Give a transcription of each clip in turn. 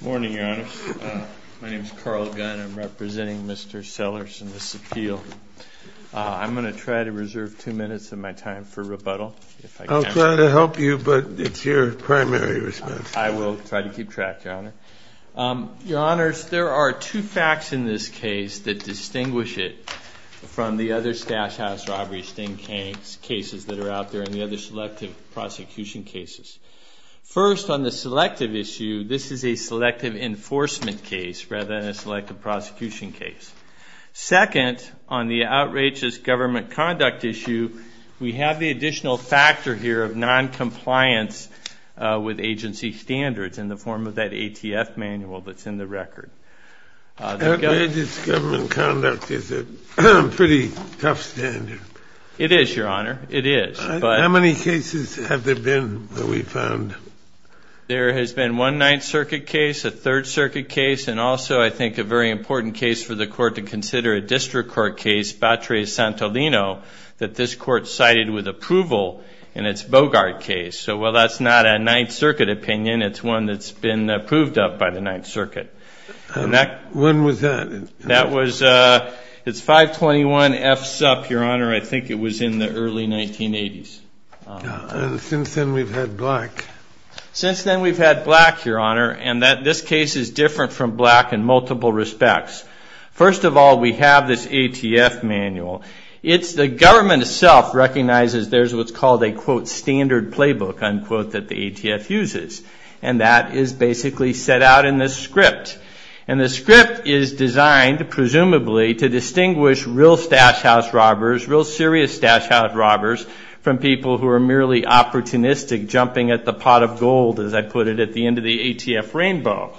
Morning, Your Honor. My name is Carl Gunn. I'm representing Mr. Sellers in this appeal. I'm going to try to reserve two minutes of my time for rebuttal. I'll try to help you, but it's your primary response. I will try to keep track, Your Honor. Your Honors, there are two facts in this case that distinguish it from the other stash house robbery sting cases that are out there and the other selective prosecution cases. First on the selective issue, this is a selective enforcement case rather than a selective prosecution case. Second, on the outrageous government conduct issue, we have the additional factor here of noncompliance with agency standards in the form of that ATF manual that's in the record. Outrageous government conduct is a pretty tough standard. It is, Your Honor. It is. How many cases have there been that we found? There has been one Ninth Circuit case, a Third Circuit case, and also I think a very important case for the Court to consider, a district court case, Batres-Santolino, that this Court cited with approval in its Bogart case. So while that's not a Ninth Circuit opinion, it's one that's been approved of by the Ninth Circuit. When was that? That was, it's 521 F. Supp., Your Honor. I think it was in the early 1980s. Since then we've had black. Since then we've had black, Your Honor, and this case is different from black in multiple respects. First of all, we have this ATF manual. It's the government itself recognizes there's what's called a, quote, standard playbook, unquote, that the ATF uses. And that is basically set out in this script. And the script is designed, presumably, to distinguish real stash house robbers, real serious stash house robbers, from people who are merely opportunistic, jumping at the pot of gold, as I put it, at the end of the ATF rainbow.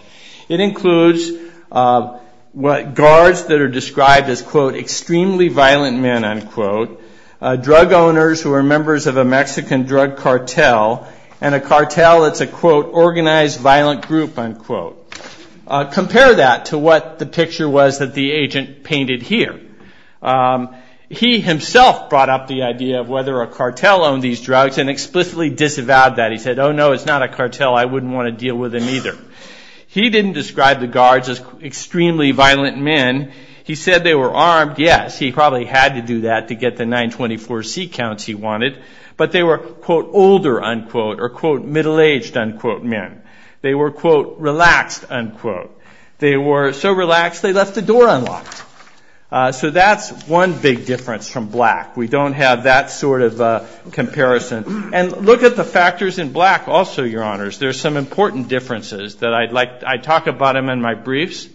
It includes guards that are described as, quote, extremely violent men, unquote, drug owners who are members of a Mexican drug cartel, and a cartel that's a, quote, organized violent group, unquote. Compare that to what the picture was that the agent painted here. He himself brought up the idea of whether a cartel owned these drugs and explicitly disavowed that. He said, oh, no, it's not a cartel. I wouldn't want to deal with them either. He didn't describe the guards as extremely violent men. He said they were armed. Yes, he probably had to do that to get the 924C counts he wanted. But they were, quote, older, unquote, or, quote, middle-aged, unquote, men. They were, quote, relaxed, unquote. They were so relaxed they left the door unlocked. So that's one big difference from black. We don't have that sort of comparison. And look at the factors in black also, your honors. There's some important differences that I'd like to talk about them in my briefs.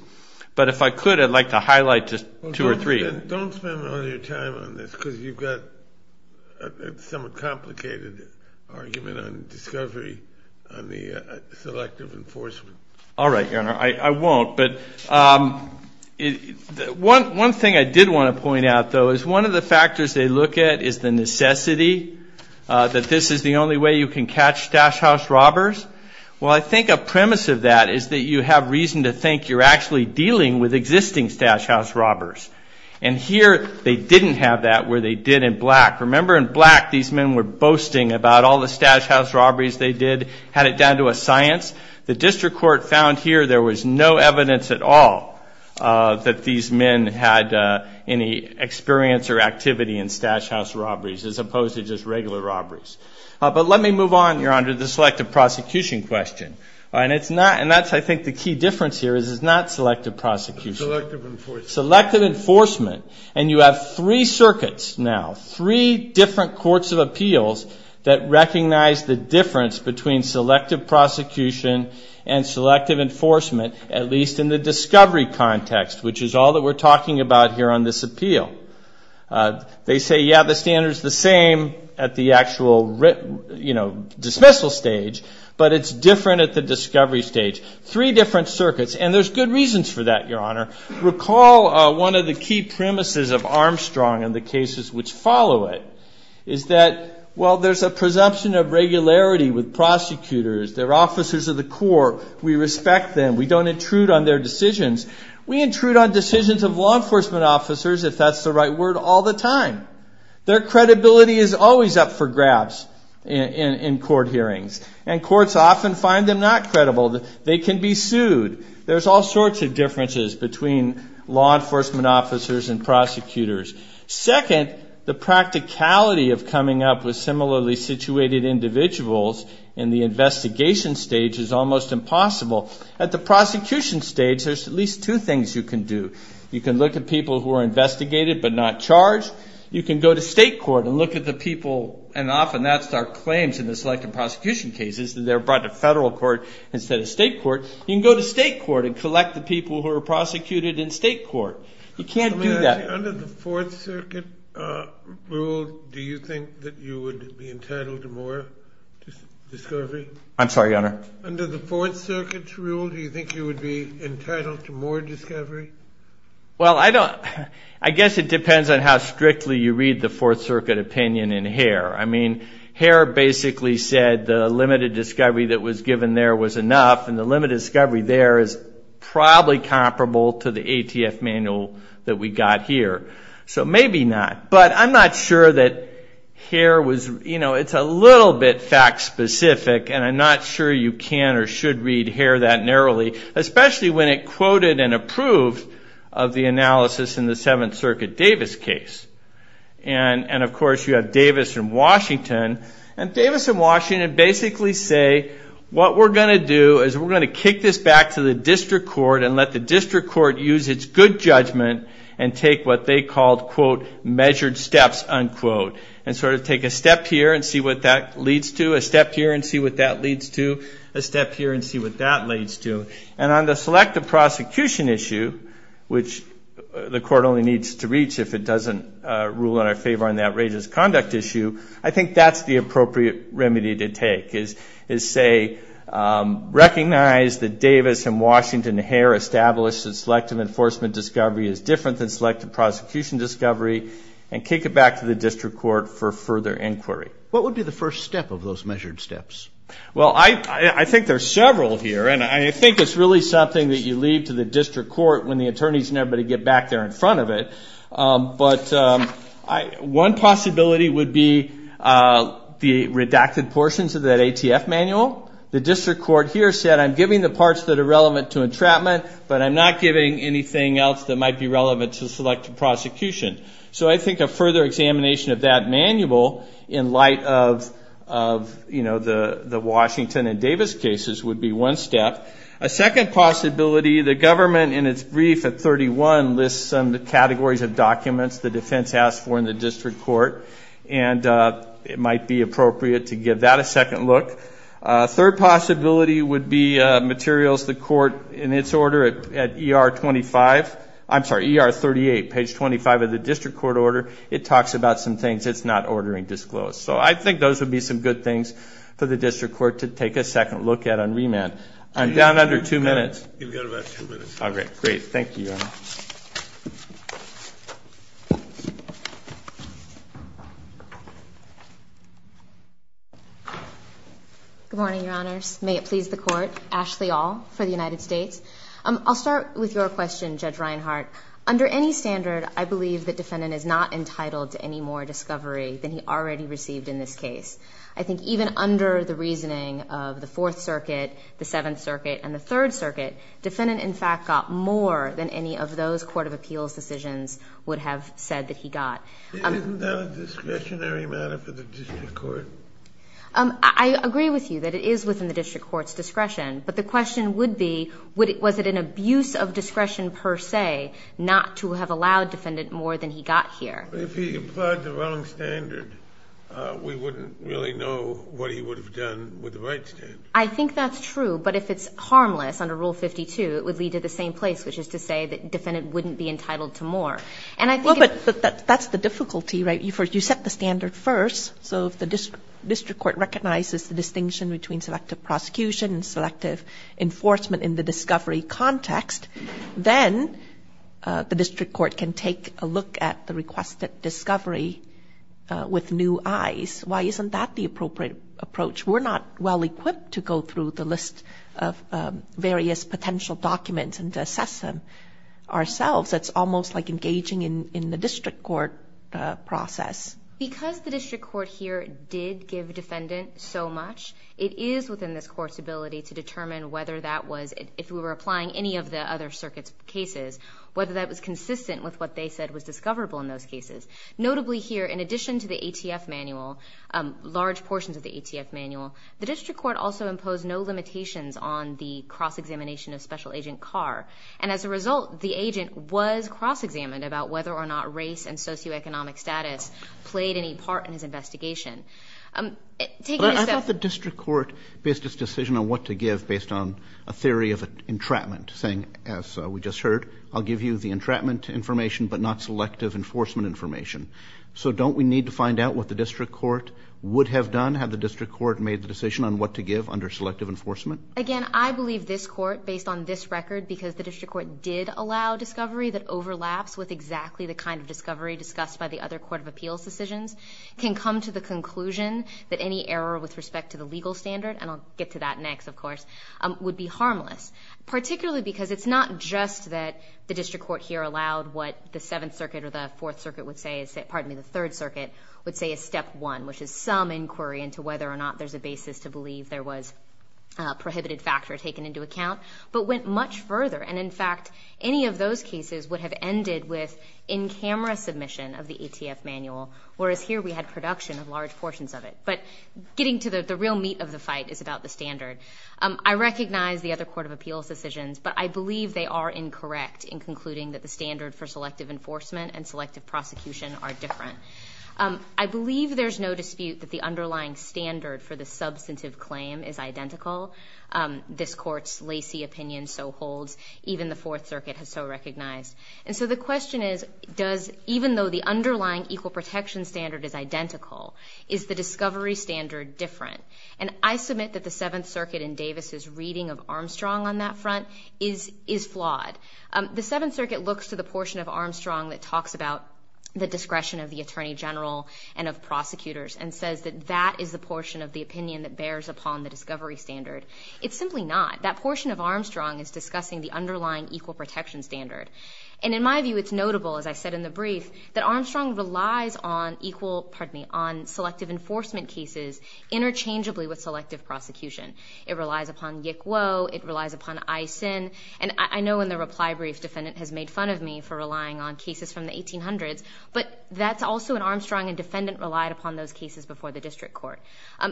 But if I could, I'd like to highlight just two or three. Don't spend all your time on this, because you've got some complicated argument on discovery on the selective enforcement. All right, your honor. I won't. But one thing I did want to point out, though, is one of the factors they look at is the necessity that this is the only way you can catch stash house robbers. Well, I think a premise of that is that you have reason to think you're actually dealing with existing stash house robbers. And here, they didn't have that where they did in black. Remember, in black, these men were boasting about all the stash house robberies they did. Had it down to a science. The district court found here there was no evidence at all that these men had any experience or activity in stash house robberies, as opposed to just regular robberies. But let me move on, your honor, to the selective prosecution question. And that's, I think, the key difference here is it's not selective prosecution. Selective enforcement. Selective enforcement. And you have three circuits now, three different courts of appeals that recognize the difference between selective prosecution and selective enforcement, at least in the discovery context, which is all that we're talking about here on this appeal. They say, yeah, the standard's the same at the actual dismissal stage. But it's different at the discovery stage. Three different circuits. And there's good reasons for that, your honor. Recall one of the key premises of Armstrong and the cases which follow it is that, well, there's a presumption of regularity with prosecutors. They're officers of the court. We respect them. We don't intrude on their decisions. We intrude on decisions of law enforcement officers, if that's the right word, all the time. Their credibility is always up for grabs in court hearings. And courts often find them not credible. They can be sued. There's all sorts of differences between law enforcement officers and prosecutors. Second, the practicality of coming up with similarly situated individuals in the investigation stage is almost impossible. At the prosecution stage, there's at least two things you can do. You can look at people who are investigated but not charged. You can go to state court and look at the people. And often, that's our claims in the selective prosecution cases, that they're brought to federal court instead of state court. You can go to state court and collect the people who are prosecuted in state court. You can't do that. Under the Fourth Circuit rule, do you think that you would be entitled to more discovery? I'm sorry, Your Honor? Under the Fourth Circuit's rule, do you think you would be entitled to more discovery? Well, I guess it depends on how strictly you read the Fourth Circuit opinion in Hare. I mean, Hare basically said the limited discovery that was given there was enough. And the limited discovery there is probably comparable to the ATF manual that we got here. So maybe not. But I'm not sure that Hare was, you know, it's a little bit fact specific. And I'm not sure you can or should read Hare that narrowly, especially when it quoted and approved of the analysis in the Seventh Circuit Davis case. And of course, you have Davis and Washington. And Davis and Washington basically say, what we're going to do is we're going to kick this back to the district court and let the district court use its good judgment and take what they called, quote, measured steps, unquote, and sort of take a step here and see what that leads to, a step here and see what that leads to, a step here and see what that leads to. And on the selective prosecution issue, which the court only needs to reach if it doesn't rule in our favor on the outrageous conduct issue, I think that's the appropriate remedy to take, is say, recognize that Davis and Washington Hare established that selective enforcement discovery is different than selective prosecution discovery and kick it back to the district court for further inquiry. What would be the first step of those measured steps? Well, I think there's several here. And I think it's really something that you leave to the district court when the attorneys and everybody get back there in front of it. But one possibility would be the redacted portions of that ATF manual. The district court here said, I'm giving the parts that are relevant to entrapment, but I'm not giving anything else that might be relevant to selective prosecution. So I think a further examination of that manual in light of the Washington and Davis cases would be one step. A second possibility, the government in its brief at 31 lists some categories of documents the defense asked for in the district court. And it might be appropriate to give that a second look. Third possibility would be materials the court in its order at ER 38, page 25 of the district court order. It talks about some things it's not ordering disclosed. So I think those would be some good things for the district court to take a second look at on remand. I'm down under two minutes. You've got about two minutes. All right, great. Thank you. Thank you. Good morning, Your Honors. May it please the court. Ashley All for the United States. I'll start with your question, Judge Reinhart. Under any standard, I believe the defendant is not entitled to any more discovery than he already received in this case. I think even under the reasoning of the Fourth Circuit, the Seventh Circuit, and the Third Circuit, defendant, in fact, got more than any of those court of appeals decisions would have said that he got. Isn't that a discretionary matter for the district court? I agree with you that it is within the district court's discretion. But the question would be, was it an abuse of discretion per se not to have allowed defendant more than he got here? If he implied the wrong standard, we wouldn't really know what he would have done with the right standard. I think that's true. But if it's harmless under Rule 52, it would lead to the same place, which is to say that defendant wouldn't be entitled to more. But that's the difficulty, right? You set the standard first. So if the district court recognizes the distinction between selective prosecution and selective enforcement in the discovery context, then the district court can take a look at the requested discovery with new eyes. Why isn't that the appropriate approach? We're not well-equipped to go through the list of various potential documents and assess them ourselves. That's almost like engaging in the district court process. Because the district court here did give defendant so much, it is within this court's ability to determine whether that was, if we were applying any of the other circuits' cases, whether that was consistent with what they said was discoverable in those cases. Notably here, in addition to the ATF manual, large portions of the ATF manual, the district court also imposed no limitations on the cross-examination of special agent Carr. And as a result, the agent was cross-examined about whether or not race and socioeconomic status played any part in his investigation. Taking a step- I thought the district court based its decision on what to give based on a theory of entrapment, saying, as we just heard, I'll give you the entrapment information, but not selective enforcement information. So don't we need to find out what the district court would have done had the district court made the decision on what to give under selective enforcement? Again, I believe this court, based on this record, because the district court did allow discovery that overlaps with exactly the kind of discovery discussed by the other court of appeals decisions, can come to the conclusion that any error with respect to the legal standard, and I'll get to that next, of course, would be harmless, particularly because it's not just that the district court here allowed what the Seventh Circuit or the Fourth Circuit would say is- pardon me, the Third Circuit would say is step one, which is some inquiry into whether or not there's a basis to believe there was a prohibited factor taken into account. But went much further, and in fact, any of those cases would have ended with in-camera submission of the ATF manual, whereas here we had production of large portions of it. But getting to the real meat of the fight is about the standard. I recognize the other court of appeals decisions, but I believe they are incorrect in concluding that the standard for selective enforcement and selective prosecution are different. I believe there's no dispute that the underlying standard for the substantive claim is identical. This court's Lacey opinion so holds, even the Fourth Circuit has so recognized. And so the question is, does- even though the underlying equal protection standard is identical, is the discovery standard different? And I submit that the Seventh Circuit in Davis's reading of Armstrong on that front is flawed. The Seventh Circuit looks to the portion of Armstrong that talks about the discretion of the attorney general and of prosecutors and says that that is the portion of the opinion that It's simply not. That portion of Armstrong is discussing the underlying equal protection standard. And in my view, it's notable, as I said in the brief, that Armstrong relies on equal- pardon me- on selective enforcement cases interchangeably with selective prosecution. It relies upon Yick Woe. It relies upon Eisen. And I know in the reply brief, defendant has made fun of me for relying on cases from the 1800s, but that's also an Armstrong a defendant relied upon those cases before the district court.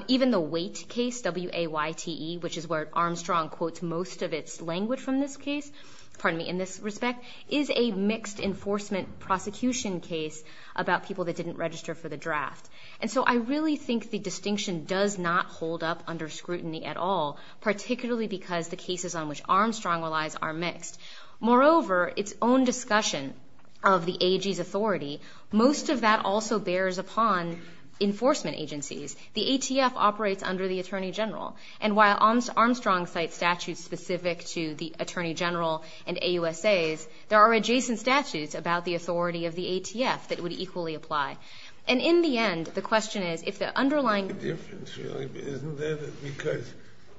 Even the Waite case, W-A-Y-T-E, which is where Armstrong quotes most of its language from this case, pardon me, in this respect, is a mixed enforcement prosecution case about people that didn't register for the draft. And so I really think the distinction does not hold up under scrutiny at all, particularly because the cases on which Armstrong relies are mixed. Moreover, its own discussion of the AG's authority, most of that also bears upon enforcement agencies. The ATF operates under the Attorney General. And while Armstrong cites statutes specific to the Attorney General and AUSAs, there are adjacent statutes about the authority of the ATF that would equally apply. And in the end, the question is, if the underlying- The difference really isn't there because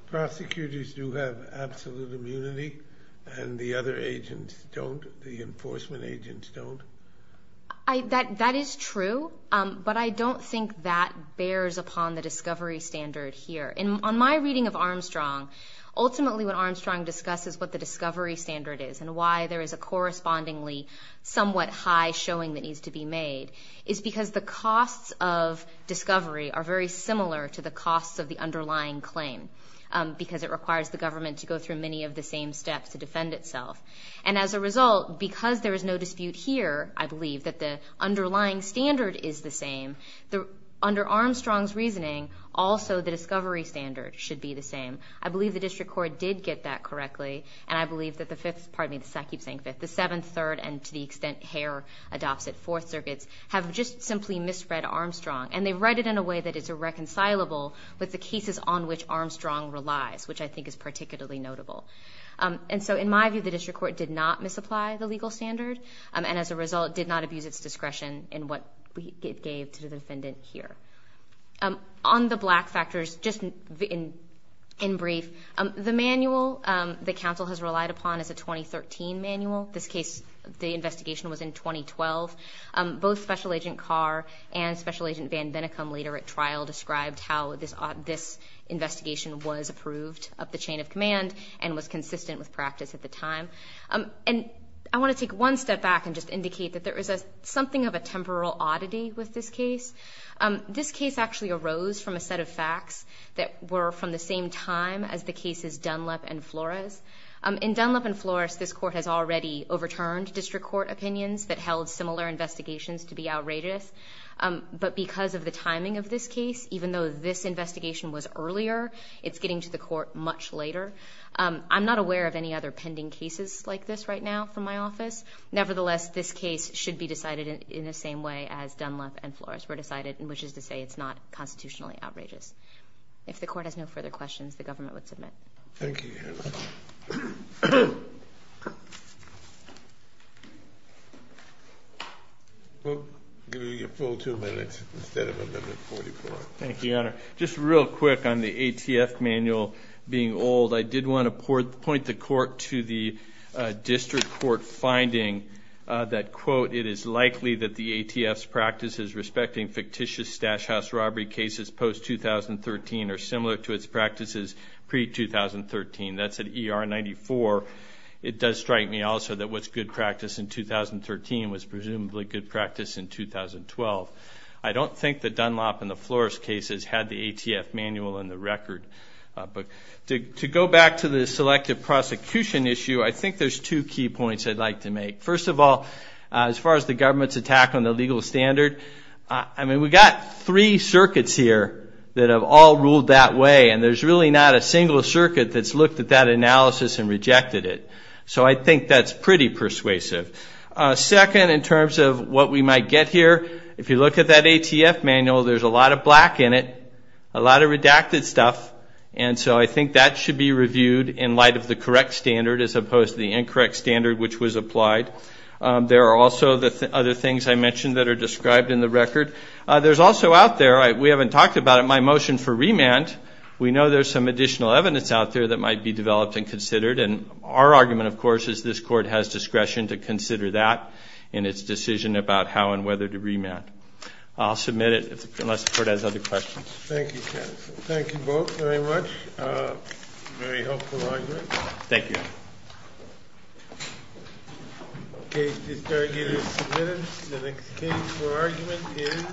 prosecutors do have absolute immunity, and the other agents don't? The enforcement agents don't? That is true, but I don't think that bears upon the discovery standard here. And on my reading of Armstrong, ultimately what Armstrong discusses what the discovery standard is and why there is a correspondingly somewhat high showing that needs to be made is because the costs of discovery are very similar to the costs of the underlying claim because it requires the government to go through many of the same steps to defend itself. And as a result, because there is no dispute here, I believe that the underlying standard is the same. Under Armstrong's reasoning, also the discovery standard should be the same. I believe the district court did get that correctly. And I believe that the fifth- Pardon me, I keep saying fifth. The seventh, third, and to the extent Hare adopts it, fourth circuits, have just simply misread Armstrong. And they've read it in a way that it's irreconcilable with the cases on which Armstrong relies, which I think is particularly notable. And so in my view, the district court did not misapply the legal standard. And as a result, did not abuse its discretion in what we gave to the defendant here. On the black factors, just in brief, the manual the council has relied upon is a 2013 manual. This case, the investigation was in 2012. Both Special Agent Carr and Special Agent Van Vennacum later at trial described how this investigation was approved of the chain of command and was consistent with practice at the time. And I wanna take one step back and just indicate that there is something of a temporal oddity with this case. This case actually arose from a set of facts that were from the same time as the cases Dunlap and Flores. In Dunlap and Flores, this court has already overturned district court opinions that held similar investigations to be outrageous. But because of the timing of this case, even though this investigation was earlier, it's getting to the court much later. I'm not aware of any other pending cases like this right now from my office. Nevertheless, this case should be decided in the same way as Dunlap and Flores were decided, in which is to say it's not constitutionally outrageous. If the court has no further questions, the government would submit. Thank you, Your Honor. We'll give you your full two minutes instead of a minute and 44. Thank you, Your Honor. Just real quick on the ATF manual being old. I did want to point the court to the district court finding that, quote, it is likely that the ATF's practices respecting fictitious stash house robbery cases post-2013 are similar to its practices pre-2013. That's at ER 94. It does strike me also that what's good practice in 2013 was presumably good practice in 2012. I don't think that Dunlap and the Flores cases had the ATF manual in the record. But to go back to the selective prosecution issue, I think there's two key points I'd like to make. First of all, as far as the government's attack on the legal standard, I mean, we've got three circuits here that have all ruled that way. And there's really not a single circuit that's looked at that analysis and rejected it. So I think that's pretty persuasive. Second, in terms of what we might get here, if you look at that ATF manual, there's a lot of black in it, a lot of redacted stuff. And so I think that should be reviewed in light of the correct standard as opposed to the incorrect standard which was applied. There are also the other things I mentioned that are described in the record. There's also out there, we haven't talked about it, my motion for remand. We know there's some additional evidence out there that might be developed and considered. And our argument, of course, is this court has discretion to consider that in its decision about how and whether to remand. I'll submit it unless the court has other questions. Thank you, counsel. Thank you both very much. Very helpful argument. Thank you. OK, this argument is submitted. The next case for argument is.